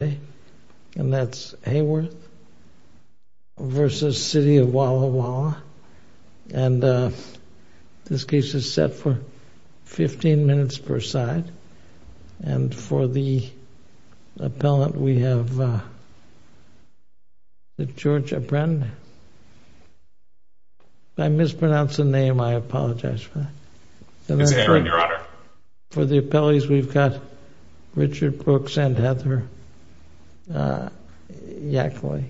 and that's Haworth v. City of Walla Walla and this case is set for 15 minutes per side and for the appellant we have the George Abraham I mispronounced the name I apologize for that for the appellees we've got Richard Brooks and Heather Yackley.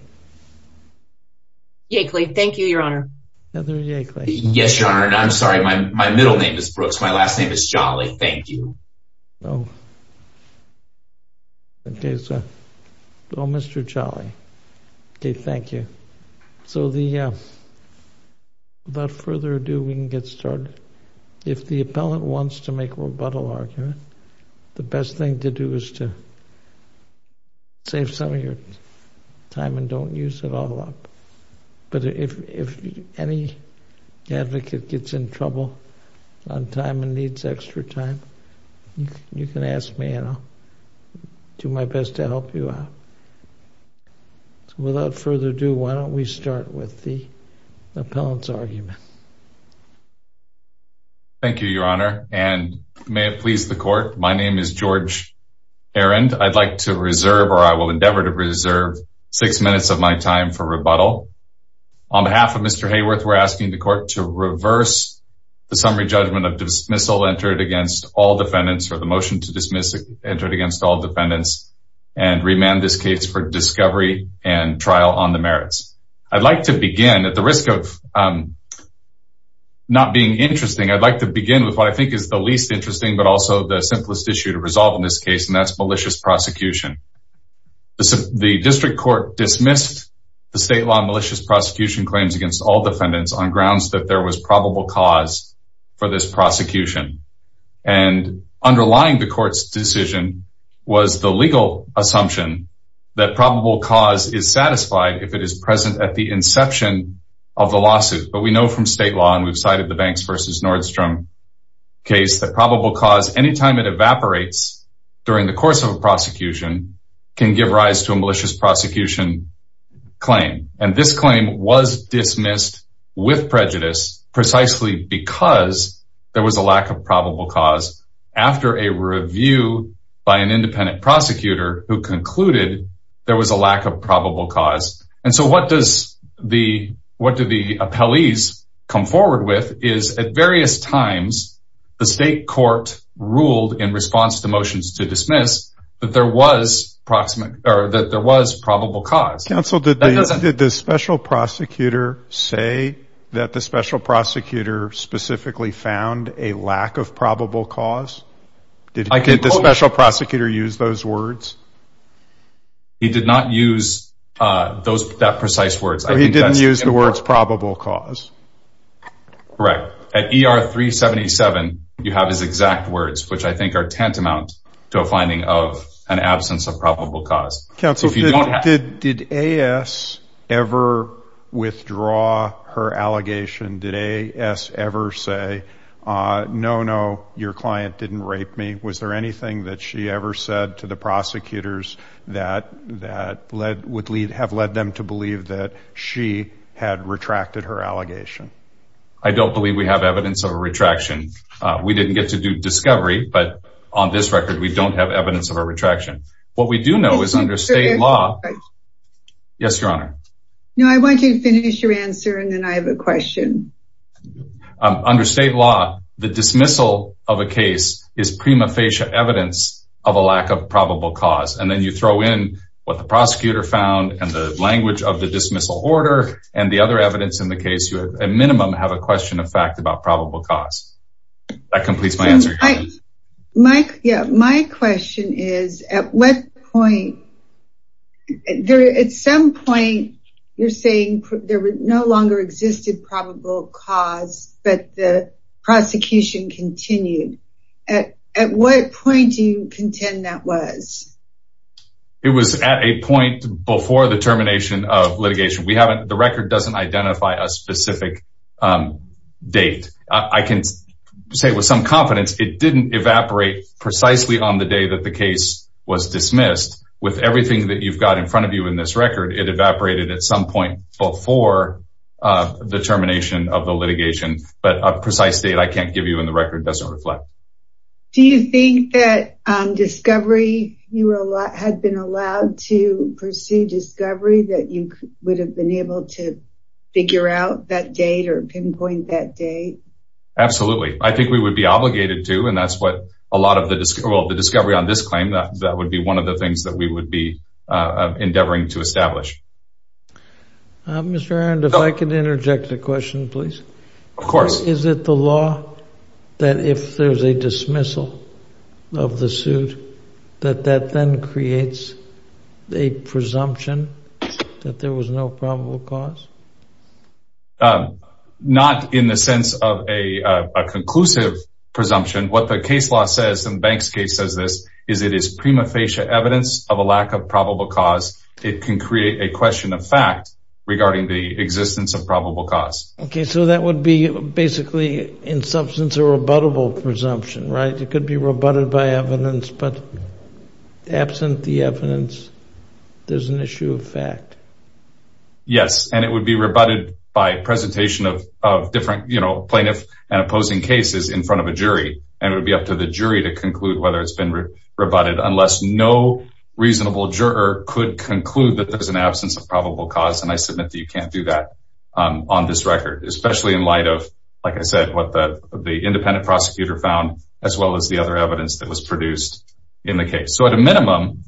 Yackley thank you your honor. Heather Yackley. Yes your honor and I'm sorry my middle name is Brooks my last name is Jolly thank you. Okay so Mr. Jolly okay thank you so the without further ado we can get started if the appellant wants to make a rebuttal argument the best thing to do is to save some of your time and don't use it all up but if any advocate gets in trouble on time and needs extra time you can ask me and I'll do my best to help you out. So without further ado why don't we start with the appellant's argument. Thank you your honor and may it please the court my name is George Arend I'd like to reserve or I will endeavor to reserve six minutes of my time for rebuttal on behalf of Mr. Hayworth we're asking the court to reverse the summary judgment of dismissal entered against all defendants for the motion to dismiss it entered against all defendants and remand this case for discovery and trial on the merits. I'd like to begin at the risk of not being interesting I'd like to begin with what I think is the least interesting but also the simplest issue to resolve in this case and that's malicious prosecution. The district court dismissed the state law malicious prosecution claims against all defendants on grounds that there was probable cause for this prosecution and underlying the court's decision was the legal assumption that probable cause is satisfied if it is present at the inception of the lawsuit but we know from state law and we've cited the Banks versus Nordstrom case that probable cause anytime it evaporates during the course of a prosecution can give rise to a malicious prosecution claim and this claim was dismissed with prejudice precisely because there was a lack of probable cause after a review by an independent prosecutor who concluded there was a lack of probable cause and so what does the what do the appellees come forward with is at various times the state court ruled in response to motions to dismiss that there was proximate or that there was probable cause. Counsel did the special prosecutor say that the special prosecutor specifically found a lack of probable cause? Did the special prosecutor use those words? He did not use those precise words. He didn't use the words probable cause? Correct. At ER 377 you have his exact words which I think are tantamount to a finding of an absence of probable cause. Counsel did AS ever withdraw her allegation? Did AS ever say no no your client didn't rape me? Was there anything that she ever said to the believe that she had retracted her allegation? I don't believe we have evidence of a retraction. We didn't get to do discovery but on this record we don't have evidence of a retraction. What we do know is under state law yes your honor. No I want you to finish your answer and then I have a question. Under state law the dismissal of a case is prima facie evidence of a lack of probable cause and then you throw in what the prosecutor found and the dismissal order and the other evidence in the case you have a minimum have a question of fact about probable cause. That completes my answer. Mike yeah my question is at what point there at some point you're saying there was no longer existed probable cause but the prosecution continued. At what point do you contend that was? It was at a point before the termination of litigation. We haven't the record doesn't identify a specific date. I can say with some confidence it didn't evaporate precisely on the day that the case was dismissed. With everything that you've got in front of you in this record it evaporated at some point before the termination of the litigation but a precise date I can't give you in the record doesn't reflect. Do you think that discovery you had been allowed to pursue discovery that you would have been able to figure out that date or pinpoint that day? Absolutely I think we would be obligated to and that's what a lot of the discovery on this claim that would be one of the things that we would be endeavoring to establish. Mr. that if there's a dismissal of the suit that that then creates the presumption that there was no probable cause? Not in the sense of a conclusive presumption what the case law says and Banks case says this is it is prima facie evidence of a lack of probable cause it can create a question of fact regarding the in substance or rebuttable presumption right it could be rebutted by evidence but absent the evidence there's an issue of fact. Yes and it would be rebutted by presentation of different you know plaintiff and opposing cases in front of a jury and it would be up to the jury to conclude whether it's been rebutted unless no reasonable juror could conclude that there's an absence of probable cause and I submit that you can't do that on this record especially in light of like I said what that the independent prosecutor found as well as the other evidence that was produced in the case so at a minimum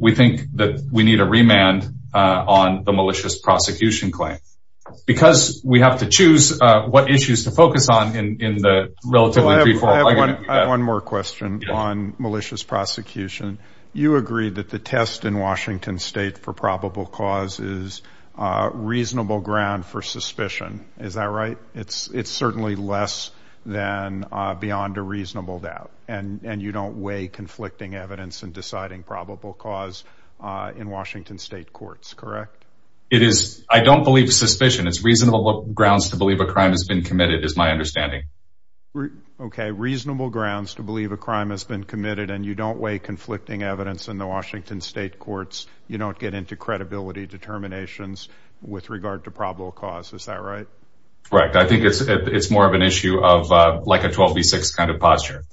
we think that we need a remand on the malicious prosecution claim because we have to choose what issues to focus on in the relatively... I have one more question on malicious prosecution you agreed that the test in Washington state for probable cause is reasonable ground for suspicion is that right it's it's certainly less than beyond a reasonable doubt and and you don't weigh conflicting evidence and deciding probable cause in Washington state courts correct? It is I don't believe suspicion it's reasonable grounds to believe a crime has been committed is my understanding. Okay reasonable grounds to believe a crime has been committed and you don't weigh conflicting evidence in the credibility determinations with regard to probable cause is that right? Correct I think it's it's more of an issue of like a 12 v 6 kind of posture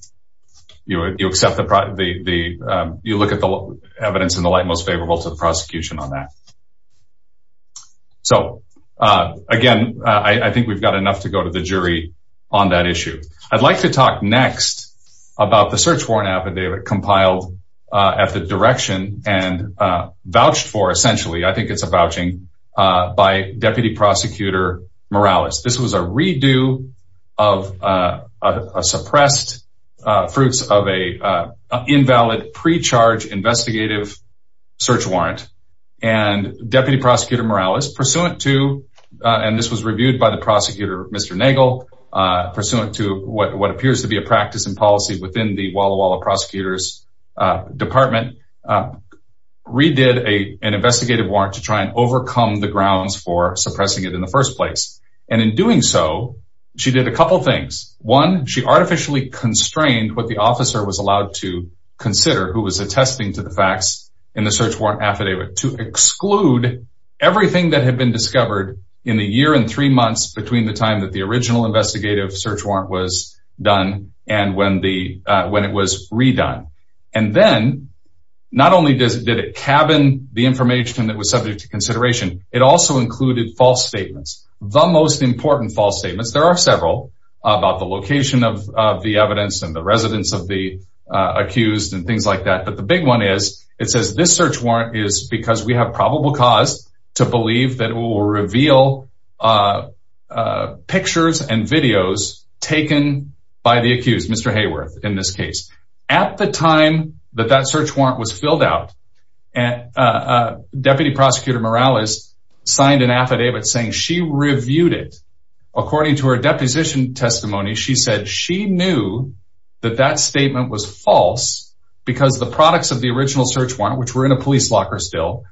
you accept the... you look at the evidence in the light most favorable to the prosecution on that. So again I think we've got enough to go to the jury on that issue. I'd like to talk next about the search warrant affidavit compiled at the direction and vouched for essentially I think it's a vouching by Deputy Prosecutor Morales. This was a redo of suppressed fruits of a invalid pre-charge investigative search warrant and Deputy Prosecutor Morales pursuant to and this was reviewed by the prosecutor Mr. Nagel pursuant to what Department redid a an investigative warrant to try and overcome the grounds for suppressing it in the first place and in doing so she did a couple things one she artificially constrained what the officer was allowed to consider who was attesting to the facts in the search warrant affidavit to exclude everything that had been discovered in the year and three months between the time that the original investigative search warrant was done and when the when it was redone and then not only does it cabin the information that was subject to consideration it also included false statements the most important false statements there are several about the location of the evidence and the residents of the accused and things like that but the big one is it says this search warrant is because we have probable cause to believe that it will reveal pictures and videos taken by the accused Mr. Hayworth in this case at the time that that search warrant was filled out and Deputy Prosecutor Morales signed an affidavit saying she reviewed it according to her deposition testimony she said she knew that that statement was false because the products of the original search warrant which were in a police locker still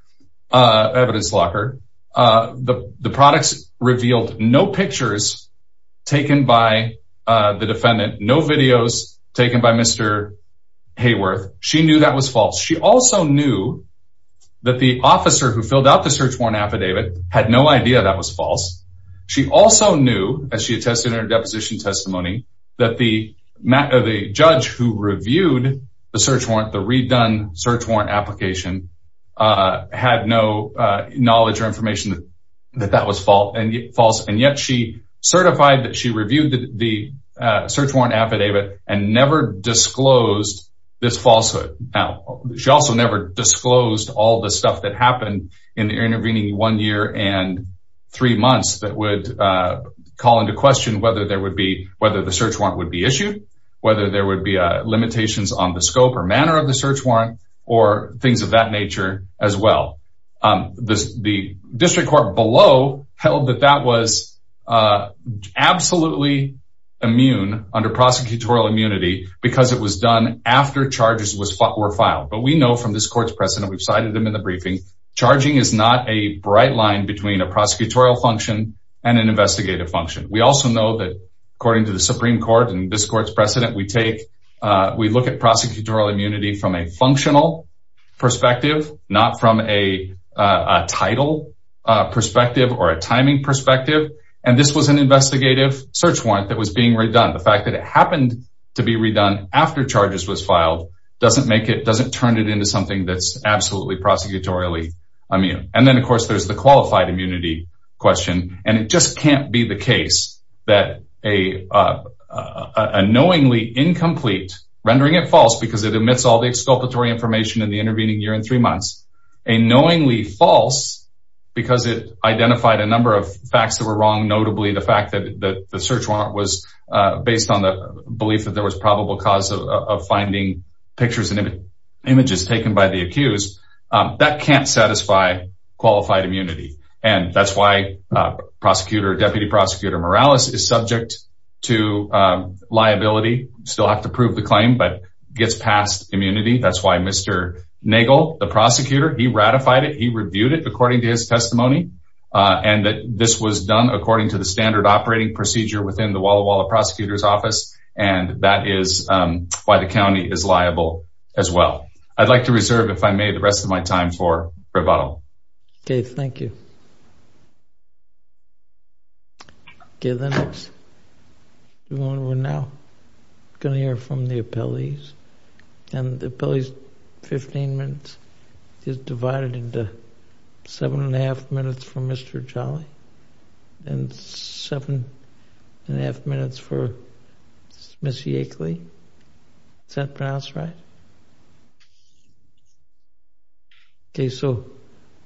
evidence locker the the products revealed no pictures taken by the defendant no videos taken by Mr. Hayworth she knew that was false she also knew that the officer who filled out the search warrant affidavit had no idea that was false she also knew as she attested her deposition testimony that the matter the judge who reviewed the search warrant the redone search warrant application had no knowledge or information that that was fault and false and yet she certified that she reviewed the search warrant affidavit and never disclosed this falsehood now she also never disclosed all the stuff that happened in intervening one year and three months that would call into question whether there would be whether the search warrant would be issued whether there would be a limitations on the scope or manner of the search warrant or things of that nature as well the district court below held that that was absolutely immune under prosecutorial immunity because it was done after charges were filed but we know from this court's precedent we've cited them in the briefing charging is not a bright line between a prosecutorial function and an investigative function we also know that according to the Supreme Court and this court's precedent we take we look at prosecutorial immunity from a perspective not from a title perspective or a timing perspective and this was an investigative search warrant that was being redone the fact that it happened to be redone after charges was filed doesn't make it doesn't turn it into something that's absolutely prosecutorial II I mean and then of course there's the qualified immunity question and it just can't be the case that a knowingly incomplete rendering it false because it omits all the information in the intervening year in three months a knowingly false because it identified a number of facts that were wrong notably the fact that the search warrant was based on the belief that there was probable cause of finding pictures and images taken by the accused that can't satisfy qualified immunity and that's why prosecutor deputy prosecutor Morales is subject to that's why mr. Nagel the prosecutor he ratified it he reviewed it according to his testimony and that this was done according to the standard operating procedure within the Walla Walla prosecutor's office and that is why the county is liable as well I'd like to reserve if I made the rest of my time for rebuttal okay thank you give the next one we're now gonna hear from the appellees and the police 15 minutes is divided into seven and a half minutes for mr. Charlie and seven and a half minutes okay so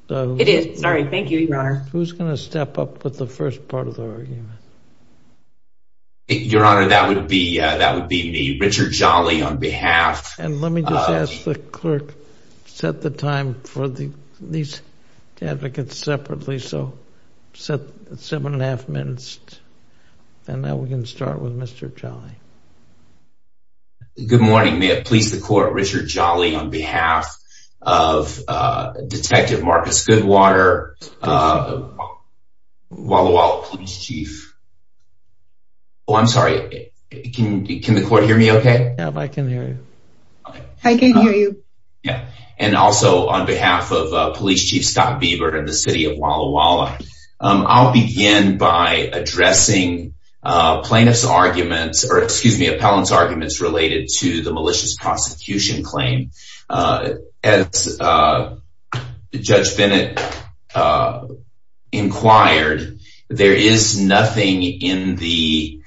it is sorry thank you your honor who's gonna step up with the first part of the argument your honor that would be that would be me Richard Jolly on behalf and let me just ask the clerk set the time for the these advocates separately so set seven and a half minutes and now we can start with mr. Charlie good morning may it please the court Richard Jolly on behalf of detective Marcus Goodwater Walla Walla chief oh I'm sorry it can be can the court hear me okay I can hear you yeah and also on behalf of police chief Scott Bieber in the city of Walla Walla I'll begin by addressing plaintiffs arguments or excuse me appellants arguments related to the malicious prosecution claim as judge Bennett inquired there is nothing in the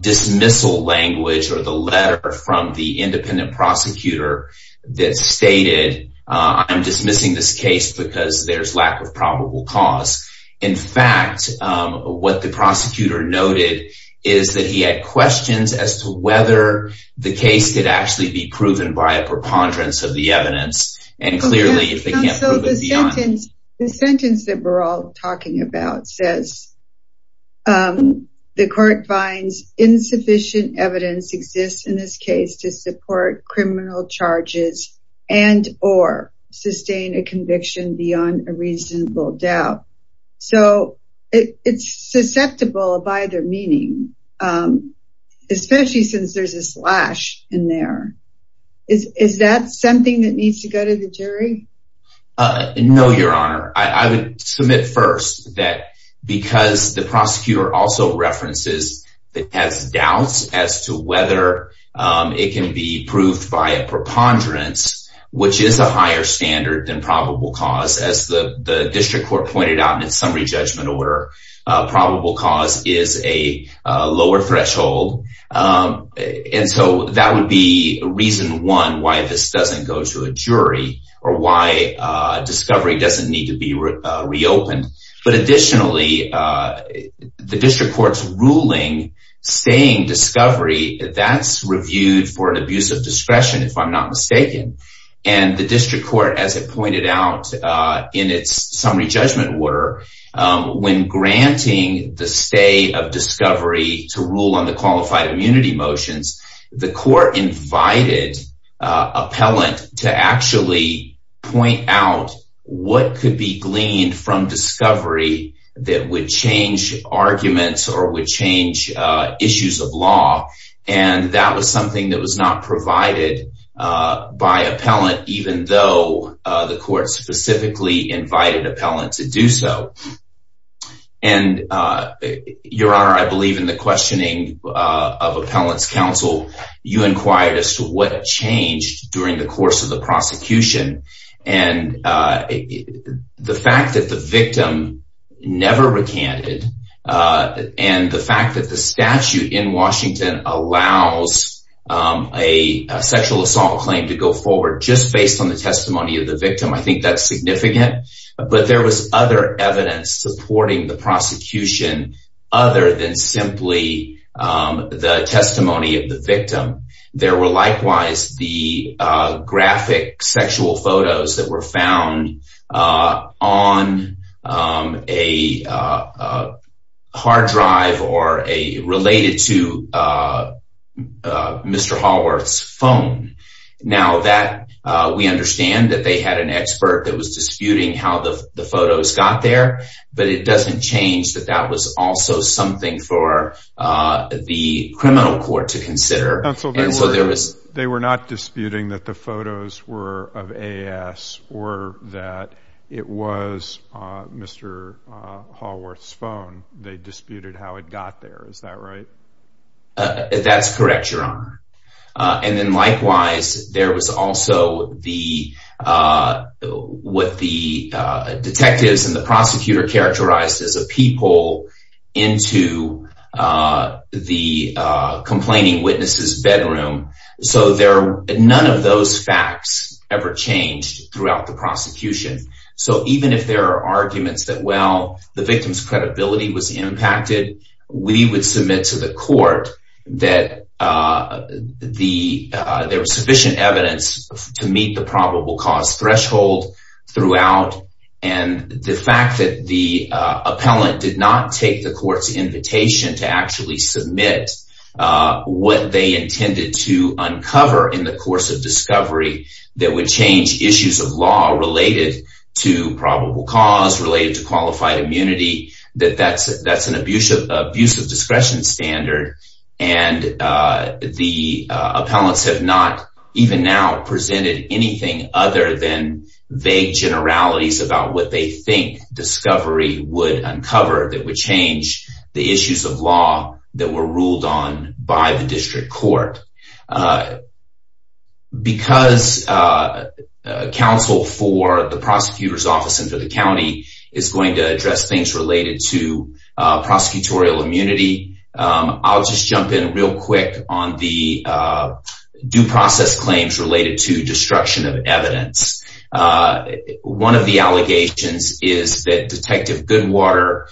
dismissal language or the letter from the independent prosecutor that stated I'm dismissing this case because there's lack of probable cause in fact what the be proven by a preponderance of the evidence and clearly the sentence that we're all talking about says the court finds insufficient evidence exists in this case to support criminal charges and or sustain a conviction beyond a reasonable doubt so it's susceptible by their meaning especially since there's a slash in there is is that something that needs to go to the jury no your honor I would submit first that because the prosecutor also references that has doubts as to whether it can be proved by a preponderance which is a higher standard than probable cause as the the district court pointed out in its probable cause is a lower threshold and so that would be reason one why this doesn't go to a jury or why discovery doesn't need to be reopened but additionally the district courts ruling staying discovery that's reviewed for an abuse of discretion if I'm not mistaken and the district court as it pointed out in its summary judgment were when granting the stay of discovery to rule on the qualified immunity motions the court invited appellant to actually point out what could be gleaned from discovery that would change arguments or would change issues of law and that was something that was not provided by a court specifically invited appellant to do so and your honor I believe in the questioning of appellants counsel you inquired as to what changed during the course of the prosecution and the fact that the victim never recanted and the fact that the statute in Washington allows a sexual assault claim to go I think that's significant but there was other evidence supporting the prosecution other than simply the testimony of the victim there were likewise the graphic sexual photos that were found on a hard drive or a related to Mr. Hallworth's phone now that we understand that they had an expert that was disputing how the photos got there but it doesn't change that that was also something for the criminal court to consider and so there was they were not disputing that the photos were of AS or that it was Mr. Hallworth's phone they that's correct your honor and then likewise there was also the what the detectives and the prosecutor characterized as a peephole into the complaining witnesses bedroom so there none of those facts ever changed throughout the prosecution so even if there are arguments that well the that there was sufficient evidence to meet the probable cause threshold throughout and the fact that the appellant did not take the court's invitation to actually submit what they intended to uncover in the course of discovery that would change issues of law related to probable cause related to and the appellants have not even now presented anything other than vague generalities about what they think discovery would uncover that would change the issues of law that were ruled on by the district court because counsel for the prosecutor's office into the county is going to address things related to prosecutorial immunity I'll just jump in real quick on the due process claims related to destruction of evidence one of the allegations is that detective Goodwater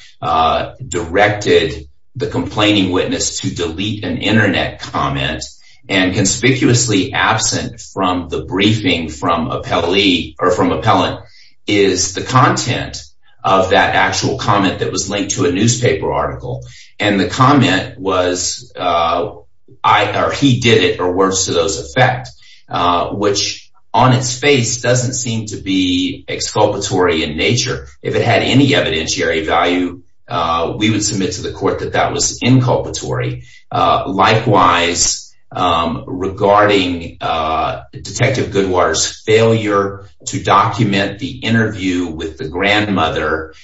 directed the complaining witness to delete an internet comment and conspicuously absent from the briefing from a Pele or from appellant is the content of that actual comment that was linked to a newspaper article and the comment was I or he did it or worse to those effect which on its face doesn't seem to be exculpatory in nature if it had any evidentiary value we would submit to the court that that was inculpatory likewise regarding detective Goodwater's failure to document the interview with the grandmother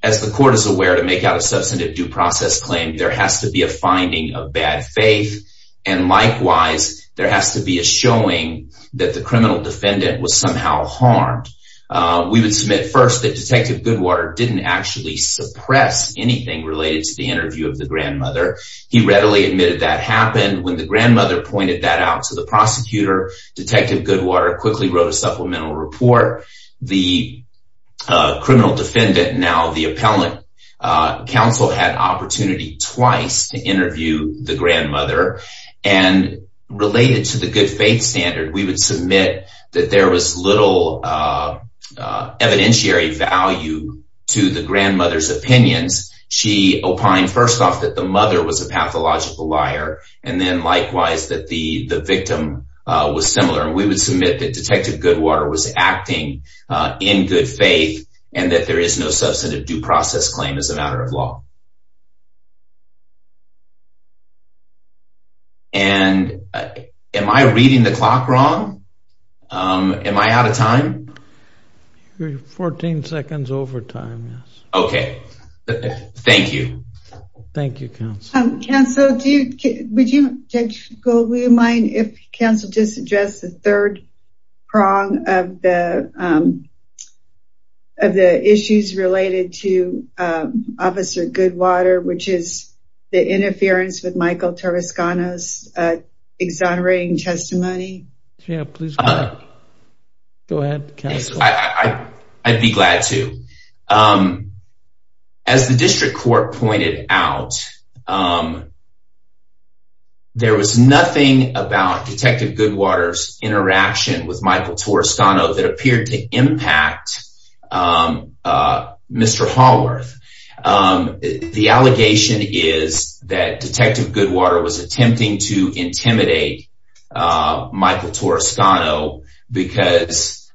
as the court is aware to make out a substantive due process claim there has to be a finding of bad faith and likewise there has to be a showing that the criminal defendant was somehow harmed we would submit first that detective Goodwater didn't actually suppress anything related to the happened when the grandmother pointed that out to the prosecutor detective Goodwater quickly wrote a supplemental report the criminal defendant now the appellant counsel had opportunity twice to interview the grandmother and related to the good faith standard we would submit that there was little evidentiary value to the grandmother's opinions she opined first off that the logical liar and then likewise that the the victim was similar and we would submit that detective Goodwater was acting in good faith and that there is no substantive due process claim as a matter of law and am I reading the clock wrong am I out of time 14 seconds overtime okay thank you thank you counsel do you mind if counsel just address the third prong of the of the issues related to officer Goodwater which is the interference with Michael Tarascona's exonerating testimony yeah please go ahead I'd be glad to as the district court pointed out there was nothing about detective Goodwater's interaction with Michael Tarascona that appeared to impact mr. Haworth the allegation is that detective Goodwater was attempting to intimidate Michael Tarascona because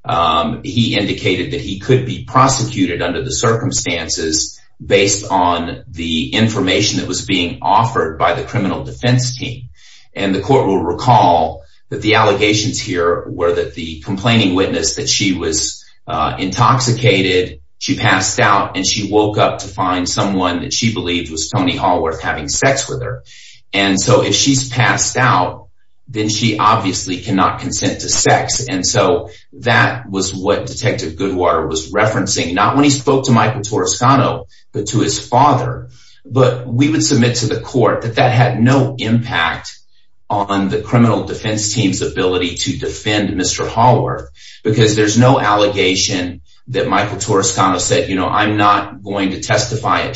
he indicated that he could be prosecuted under the circumstances based on the information that was being offered by the criminal defense team and the court will recall that the allegations here were that the complaining witness that she was intoxicated she passed out and she woke up to find someone that she believed was Tony Haworth having sex with her and so if she's passed out then she obviously cannot consent to sex and so that was what detective Goodwater was referencing not when he spoke to Michael Tarascona but to his father but we would submit to the court that that had no impact on the criminal defense team's ability to defend mr. Haworth because there's no allegation that Michael Tarascona said you know I'm not going to testify at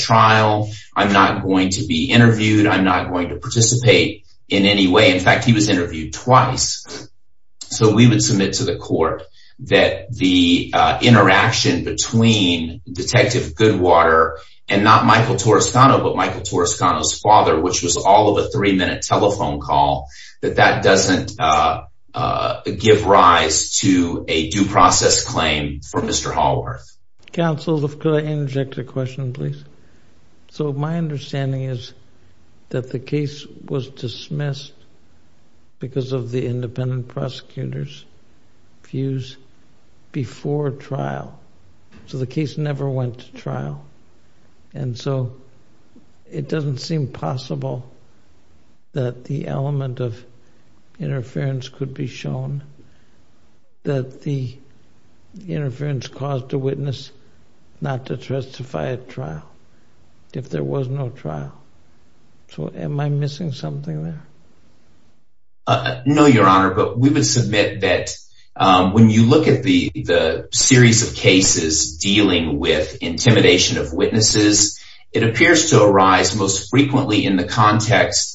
in any way in fact he was interviewed twice so we would submit to the court that the interaction between detective Goodwater and not Michael Tarascona but Michael Tarascona's father which was all of a three-minute telephone call that that doesn't give rise to a due process claim for mr. Haworth counsel if could I because of the independent prosecutors views before trial so the case never went to trial and so it doesn't seem possible that the element of interference could be shown that the interference caused a witness not to know your honor but we would submit that when you look at the the series of cases dealing with intimidation of witnesses it appears to arise most frequently in the context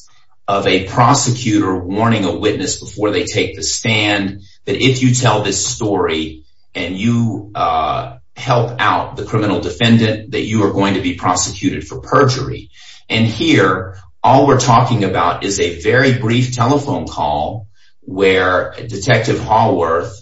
of a prosecutor warning a witness before they take the stand that if you tell this story and you help out the criminal defendant that you are talking about is a very brief telephone call where detective Haworth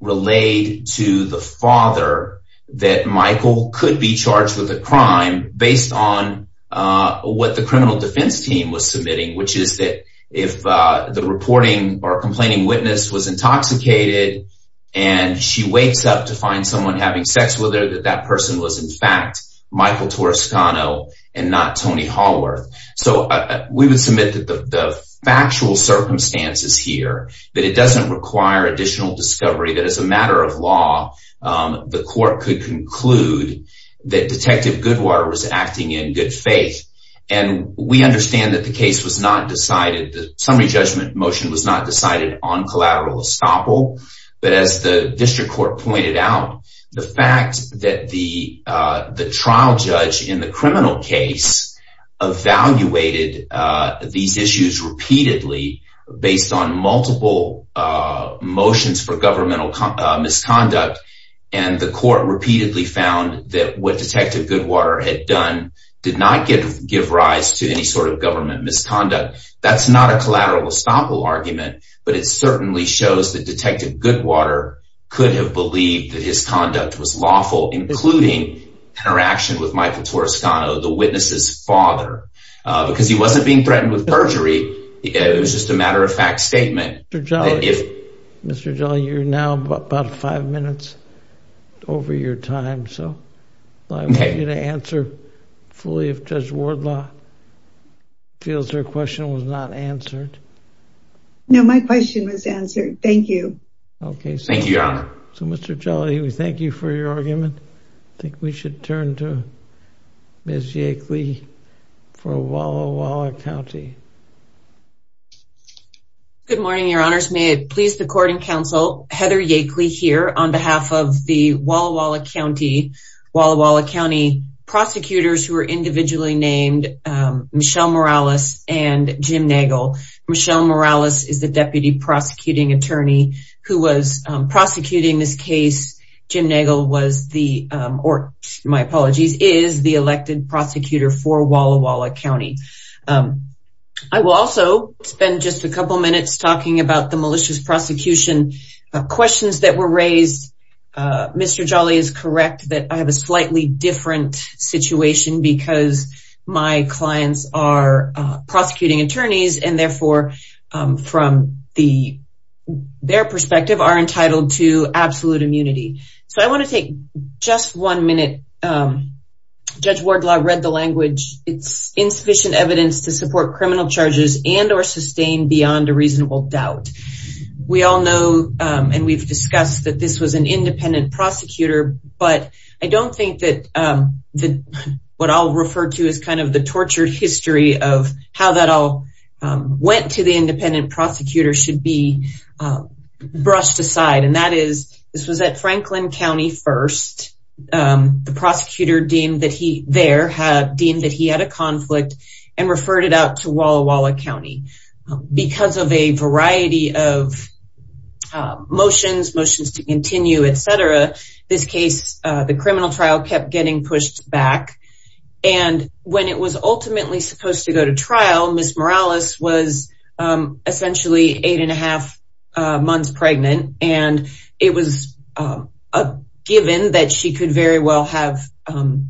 relayed to the father that Michael could be charged with a crime based on what the criminal defense team was submitting which is that if the reporting or complaining witness was intoxicated and she wakes up to find someone having sex with her that that person was in fact Michael Tarascona and not Tony Haworth so we would submit that the factual circumstances here that it doesn't require additional discovery that is a matter of law the court could conclude that detective Goodwater was acting in good faith and we understand that the case was not decided the summary judgment motion was not decided on the trial judge in the criminal case evaluated these issues repeatedly based on multiple motions for governmental misconduct and the court repeatedly found that what detective Goodwater had done did not give rise to any sort of government misconduct that's not a collateral estoppel argument but it certainly shows that detective Goodwater could have believed that his conduct was including interaction with Michael Tarascona the witness's father because he wasn't being threatened with perjury it was just a matter-of-fact statement Mr. Jolly you're now about five minutes over your time so I want you to answer fully if Judge Wardlaw feels her question was not answered no my question was answered thank you okay thank you your honor so Mr. Jolly we thank you for your argument I think we should turn to Ms. Yakeley for Walla Walla County good morning your honors may it please the court and counsel Heather Yakeley here on behalf of the Walla Walla County Walla Walla County prosecutors who are individually named Michelle Morales and Jim Nagel Michelle Morales is the deputy prosecuting attorney who was prosecuting this case Jim Nagel was the or my apologies is the elected prosecutor for Walla Walla County I will also spend just a couple minutes talking about the malicious prosecution questions that were raised Mr. Jolly is correct that I have a slightly different situation because my clients are prosecuting attorneys and therefore from the their perspective are entitled to absolute immunity so I want to take just one minute Judge Wardlaw read the language it's insufficient evidence to support criminal charges and or sustain beyond a reasonable doubt we all know and we've discussed that this was an independent prosecutor but I don't think that the what I'll refer to is kind of the tortured history of how that all went to the independent prosecutor should be brushed aside and that is this was at Franklin County first the prosecutor deemed that he there had deemed that he had a conflict and referred it out to Walla Walla County because of a variety of motions motions to continue etc this case the criminal trial kept getting pushed back and when it was ultimately supposed to go to trial it was essentially eight and a half months pregnant and it was given that she could very well have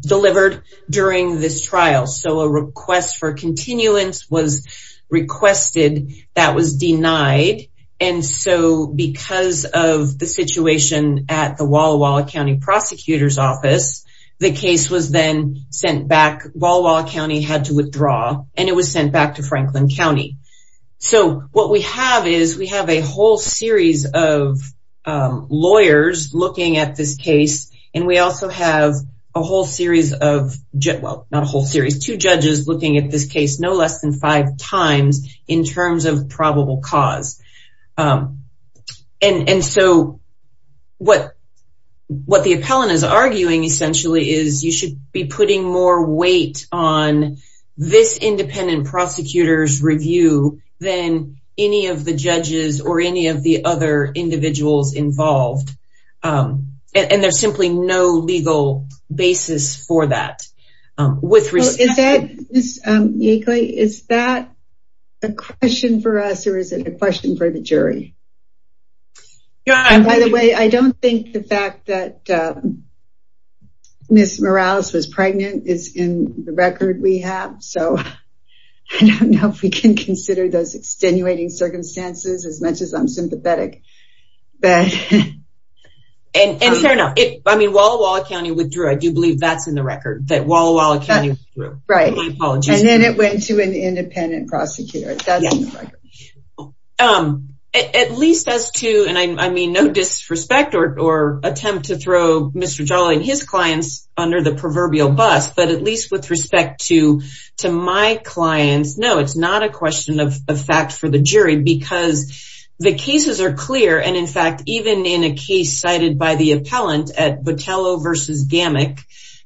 delivered during this trial so a request for continuance was requested that was denied and so because of the situation at the Walla Walla County prosecutor's office the case was then sent back Walla Walla County had to withdraw and it was sent back to Franklin County so what we have is we have a whole series of lawyers looking at this case and we also have a whole series of jet well not a whole series two judges looking at this case no less than five times in terms of probable cause and and so what what the appellant is arguing essentially is you should be putting more weight on this independent prosecutors review than any of the judges or any of the other individuals involved and there's simply no legal basis for that with respect is that a question for us or is it a question for the jury yeah and by the way I don't think the fact that miss Morales was pregnant is in the record we have so I don't know if we can consider those extenuating circumstances as much as I'm sympathetic but and turn up it I mean Walla Walla County withdrew I do believe that's in the record that Walla Walla County right and then it went to an independent prosecutor at least as to and I mean no disrespect or attempt to throw mr. Jolly and his clients under the proverbial bus but at least with respect to to my clients no it's not a question of a fact for the jury because the cases are clear and in fact even in a case cited by the appellant at Botelho versus gammon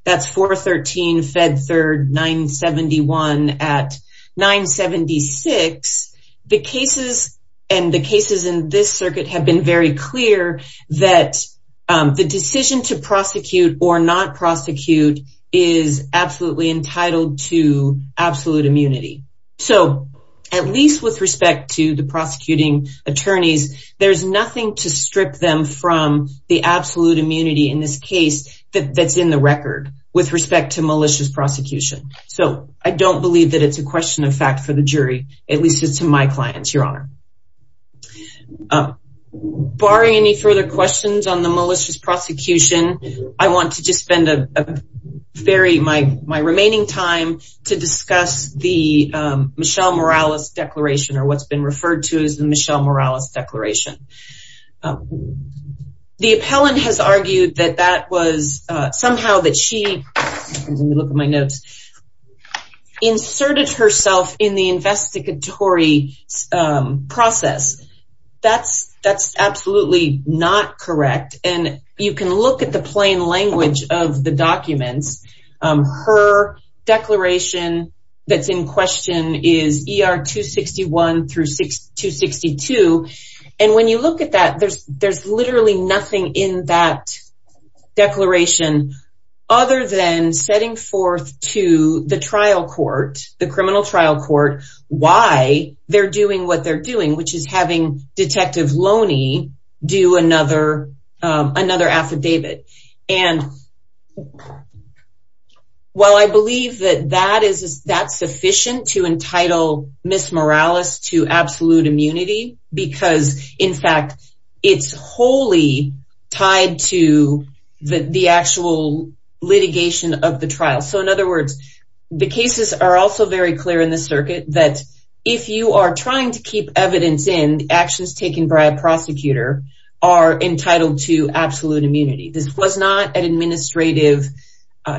that's 413 fed third 971 at 976 the cases and the cases in this circuit have been very clear that the decision to prosecute or not prosecute is absolutely entitled to absolute immunity so at least with respect to the prosecuting attorneys there's nothing to strip them from the absolute immunity in this case that's in the record with respect to malicious prosecution so I don't believe that it's a question of fact for the jury at least it's to my clients your honor barring any further questions on the malicious prosecution I want to just spend a very my my remaining time to discuss the Michelle Morales declaration or what's been referred to as the Michelle Morales declaration the appellant has argued that that was somehow that she inserted herself in the investigatory process that's that's absolutely not correct and you can look at the plain language of the documents her declaration that's in question is er 261 through 6262 and when you look at that there's there's literally nothing in that declaration other than setting forth to the trial court the criminal trial court why they're doing what they're doing which is having detective Loney do another another affidavit and well I believe that that is that's sufficient to entitle miss Morales to absolute immunity because in fact it's wholly tied to the actual litigation of the trial so in other words the cases are also very clear in the circuit that if you are trying to keep evidence in actions taken by a prosecutor are entitled to absolute immunity this was not an administrative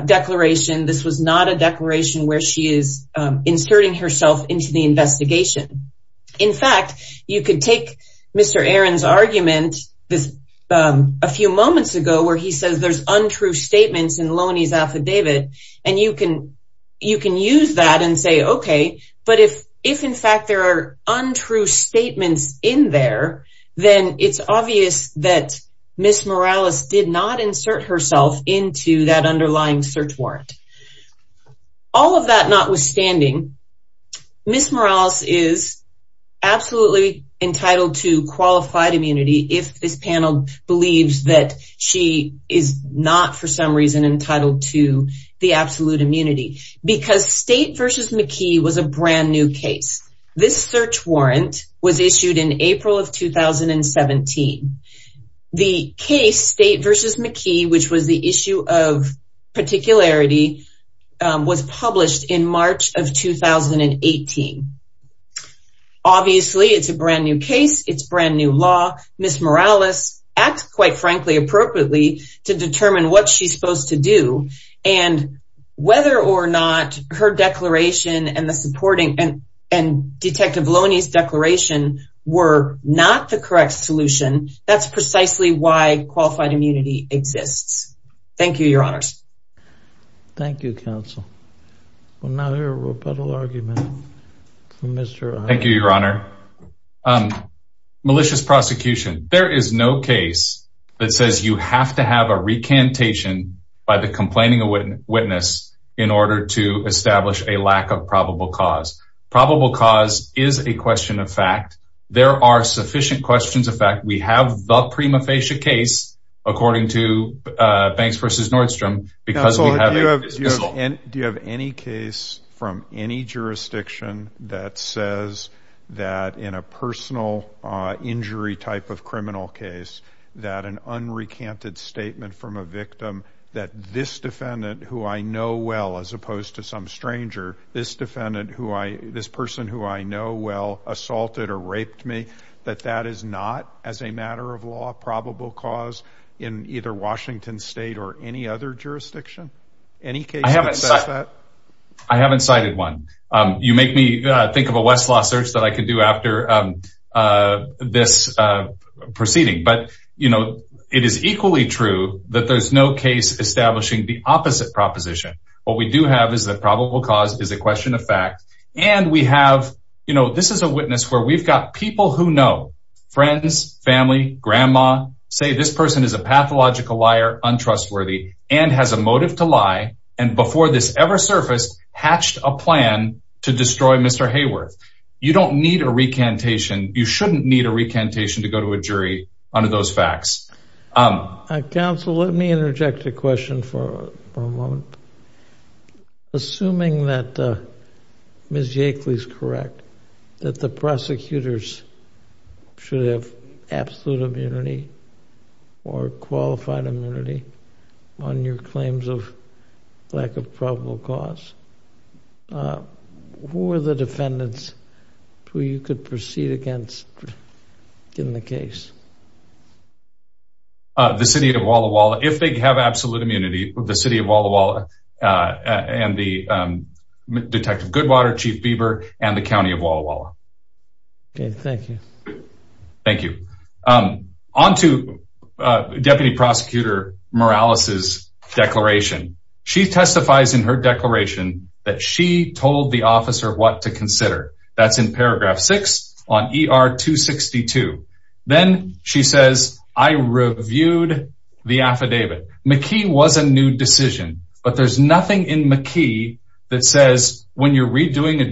declaration this was not a declaration where she is inserting herself into the investigation in fact you could take Mr. Aaron's argument a few moments ago where he says there's untrue statements in Loney's and say okay but if if in fact there are untrue statements in there then it's obvious that miss Morales did not insert herself into that underlying search warrant all of that notwithstanding miss Morales is absolutely entitled to qualified immunity if this panel believes that she is not for some reason entitled to the absolute immunity because state versus McKee was a brand new case this search warrant was issued in April of 2017 the case state versus McKee which was the issue of particularity was published in March of 2018 obviously it's a brand new case it's brand new law miss Morales acts quite frankly appropriately to determine what she's supposed to do and whether or not her declaration and the supporting and and detective Loney's declaration were not the correct solution that's precisely why qualified immunity exists thank you your honor's thank you counsel another rebuttal argument thank you your honor malicious prosecution there is no case that says you have to have a recantation by the complaining a witness in order to establish a lack of probable cause probable cause is a question of fact there are sufficient questions of fact we have the prima facie case according to banks versus Nordstrom because do you have any case from any case that an unrecanted statement from a victim that this defendant who I know well as opposed to some stranger this defendant who I this person who I know well assaulted or raped me that that is not as a matter of law probable cause in either Washington State or any other jurisdiction any case I haven't cited one you make me think of a Westlaw search that I could do after this proceeding but you know it is equally true that there's no case establishing the opposite proposition what we do have is that probable cause is a question of fact and we have you know this is a witness where we've got people who know friends family grandma say this person is a pathological liar untrustworthy and has a motive to lie and before this ever surfaced hatched a plan to destroy mr. Hayworth you don't need a recantation you shouldn't need a recantation to go to a jury under those facts counsel let me interject a question for assuming that miss Jake Lee's correct that the prosecutors should have absolute immunity or qualified immunity on your claims of lack of probable cause who are the defendants who you could proceed against in the case the city of Walla Walla if they have absolute immunity the city of Walla Walla and the detective Goodwater chief Bieber and the county of Walla thank you on to deputy prosecutor Morales's declaration she testifies in her declaration that she told the officer what to consider that's in paragraph 6 on er 262 then she says I reviewed the affidavit McKee was a new decision but there's nothing in McKee that says when you're redoing a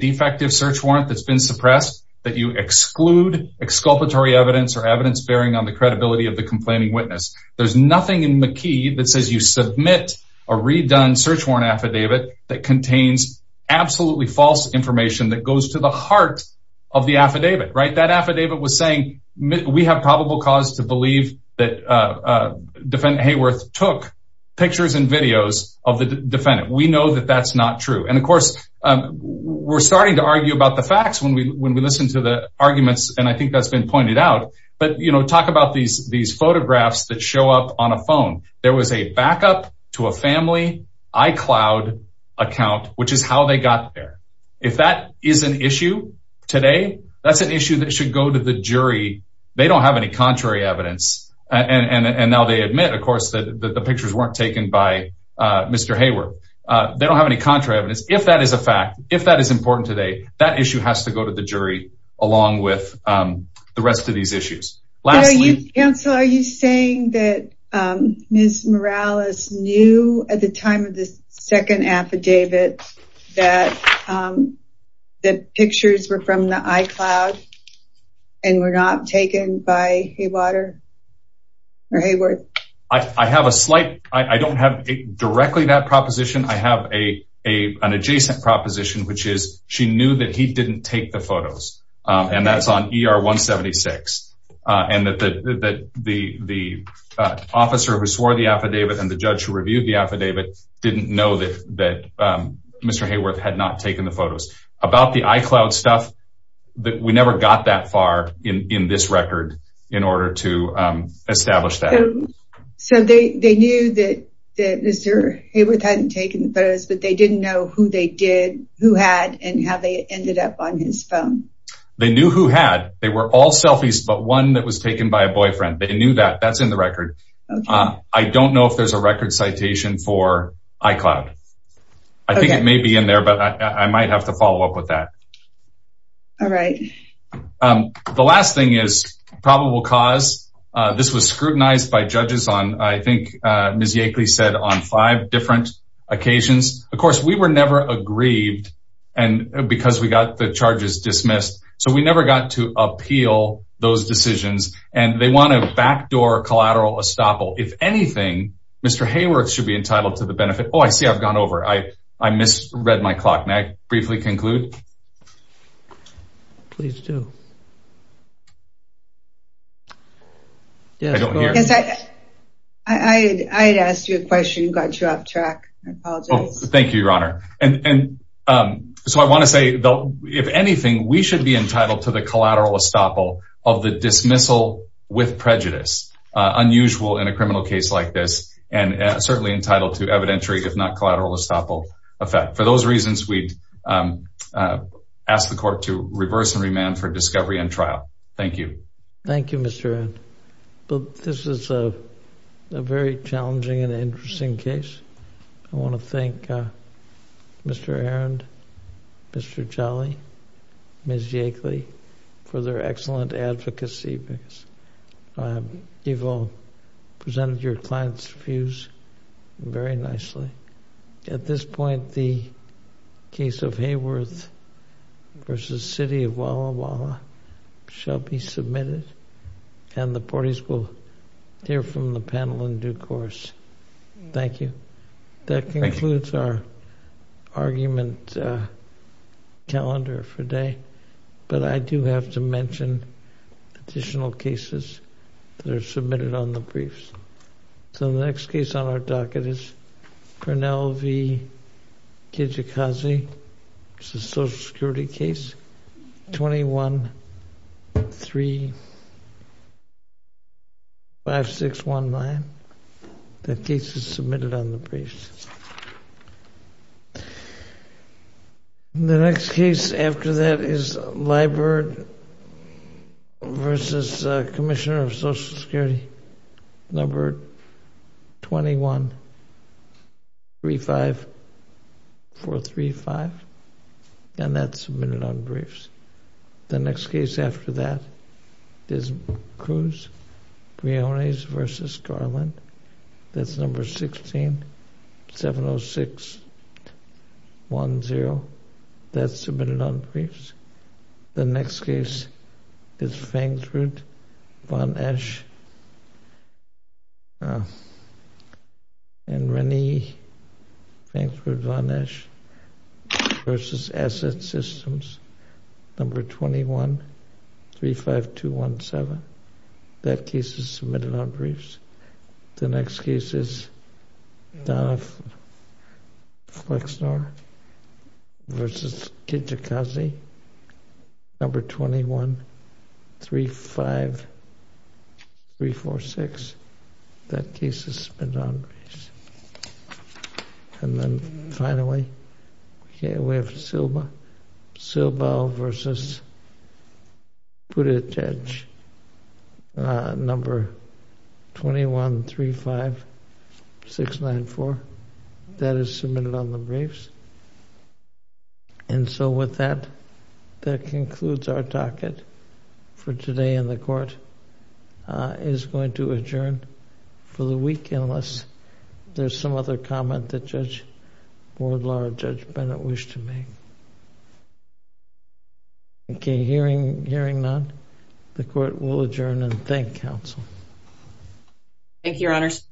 exculpatory evidence or evidence bearing on the credibility of the complaining witness there's nothing in McKee that says you submit a redone search warrant affidavit that contains absolutely false information that goes to the heart of the affidavit right that affidavit was saying we have probable cause to believe that defendant Hayworth took pictures and videos of the defendant we know that that's not true and of course we're starting to argue about the facts when we when we listen to the arguments and I think that's been pointed out but you know talk about these these photographs that show up on a phone there was a backup to a family iCloud account which is how they got there if that is an issue today that's an issue that should go to the jury they don't have any contrary evidence and and now they admit of course that the pictures weren't taken by mr. Hayworth they don't have any contra evidence if that is a fact if that is important today that issue has to go to the jury along with the rest of these issues lastly yeah so are you saying that miss Morales knew at the time of the second affidavit that the pictures were from the iCloud and we're not taken by a water or Hayworth I have a slight I proposition which is she knew that he didn't take the photos and that's on er 176 and that the the the officer who swore the affidavit and the judge who reviewed the affidavit didn't know that that mr. Hayworth had not taken the photos about the iCloud stuff that we never got that far in this record in order to establish that so they they knew that that mr. Hayworth hadn't taken those but they didn't know who they did who had and how they ended up on his phone they knew who had they were all selfies but one that was taken by a boyfriend they knew that that's in the record I don't know if there's a record citation for iCloud I think it may be in there but I might have to follow up with that all right the last thing is probable cause this was scrutinized by of course we were never agreed and because we got the charges dismissed so we never got to appeal those decisions and they want to backdoor collateral estoppel if anything mr. Hayworth should be entitled to the benefit oh I see I've gone over I I misread my clock may I briefly conclude please do I asked you a question you got you off track thank you your honor and so I want to say though if anything we should be entitled to the collateral estoppel of the dismissal with prejudice unusual in a criminal case like this and certainly entitled to evidentiary if not collateral estoppel effect for those reasons we'd ask the court to reverse and remand for discovery and trial thank you thank you mr. but this is a very challenging and interesting case I want to thank mr. Arendt mr. Jolly ms. Yankley for their excellent advocacy because evil presented your clients views very nicely at this point the case of Hayworth versus City of Walla Walla shall be submitted and the parties will hear from the panel in due course thank you that concludes our argument calendar for day but I do have to mention additional cases that are submitted on the briefs so the next case on our docket is Cornell v. Kijikaze it's a social security case 21 3 5 6 1 9 that case is submitted on the briefs the next case after that is Liburd versus Commissioner of Social Security number 21 3 5 4 3 5 and that's submitted on briefs the next case after that is Cruz Briones versus Garland that's number 16 706 1 0 that's submitted on briefs the next case is Fankford von Esch and Rennie Fankford von Esch versus asset systems number 21 3 5 2 1 7 that case is submitted on briefs the next case is Donna Flexner versus Kijikaze number 21 3 5 3 4 6 that case is spent on and then finally we have Silba, Silba versus Buttigieg number 21 3 5 6 9 4 that is submitted on the briefs and so with that that concludes our docket for today and the court is going to adjourn for the week unless there's some other comment that Judge Wardlaw or Judge Bennett wish to make. Okay hearing none the court will adjourn and thank counsel. Thank you your honors.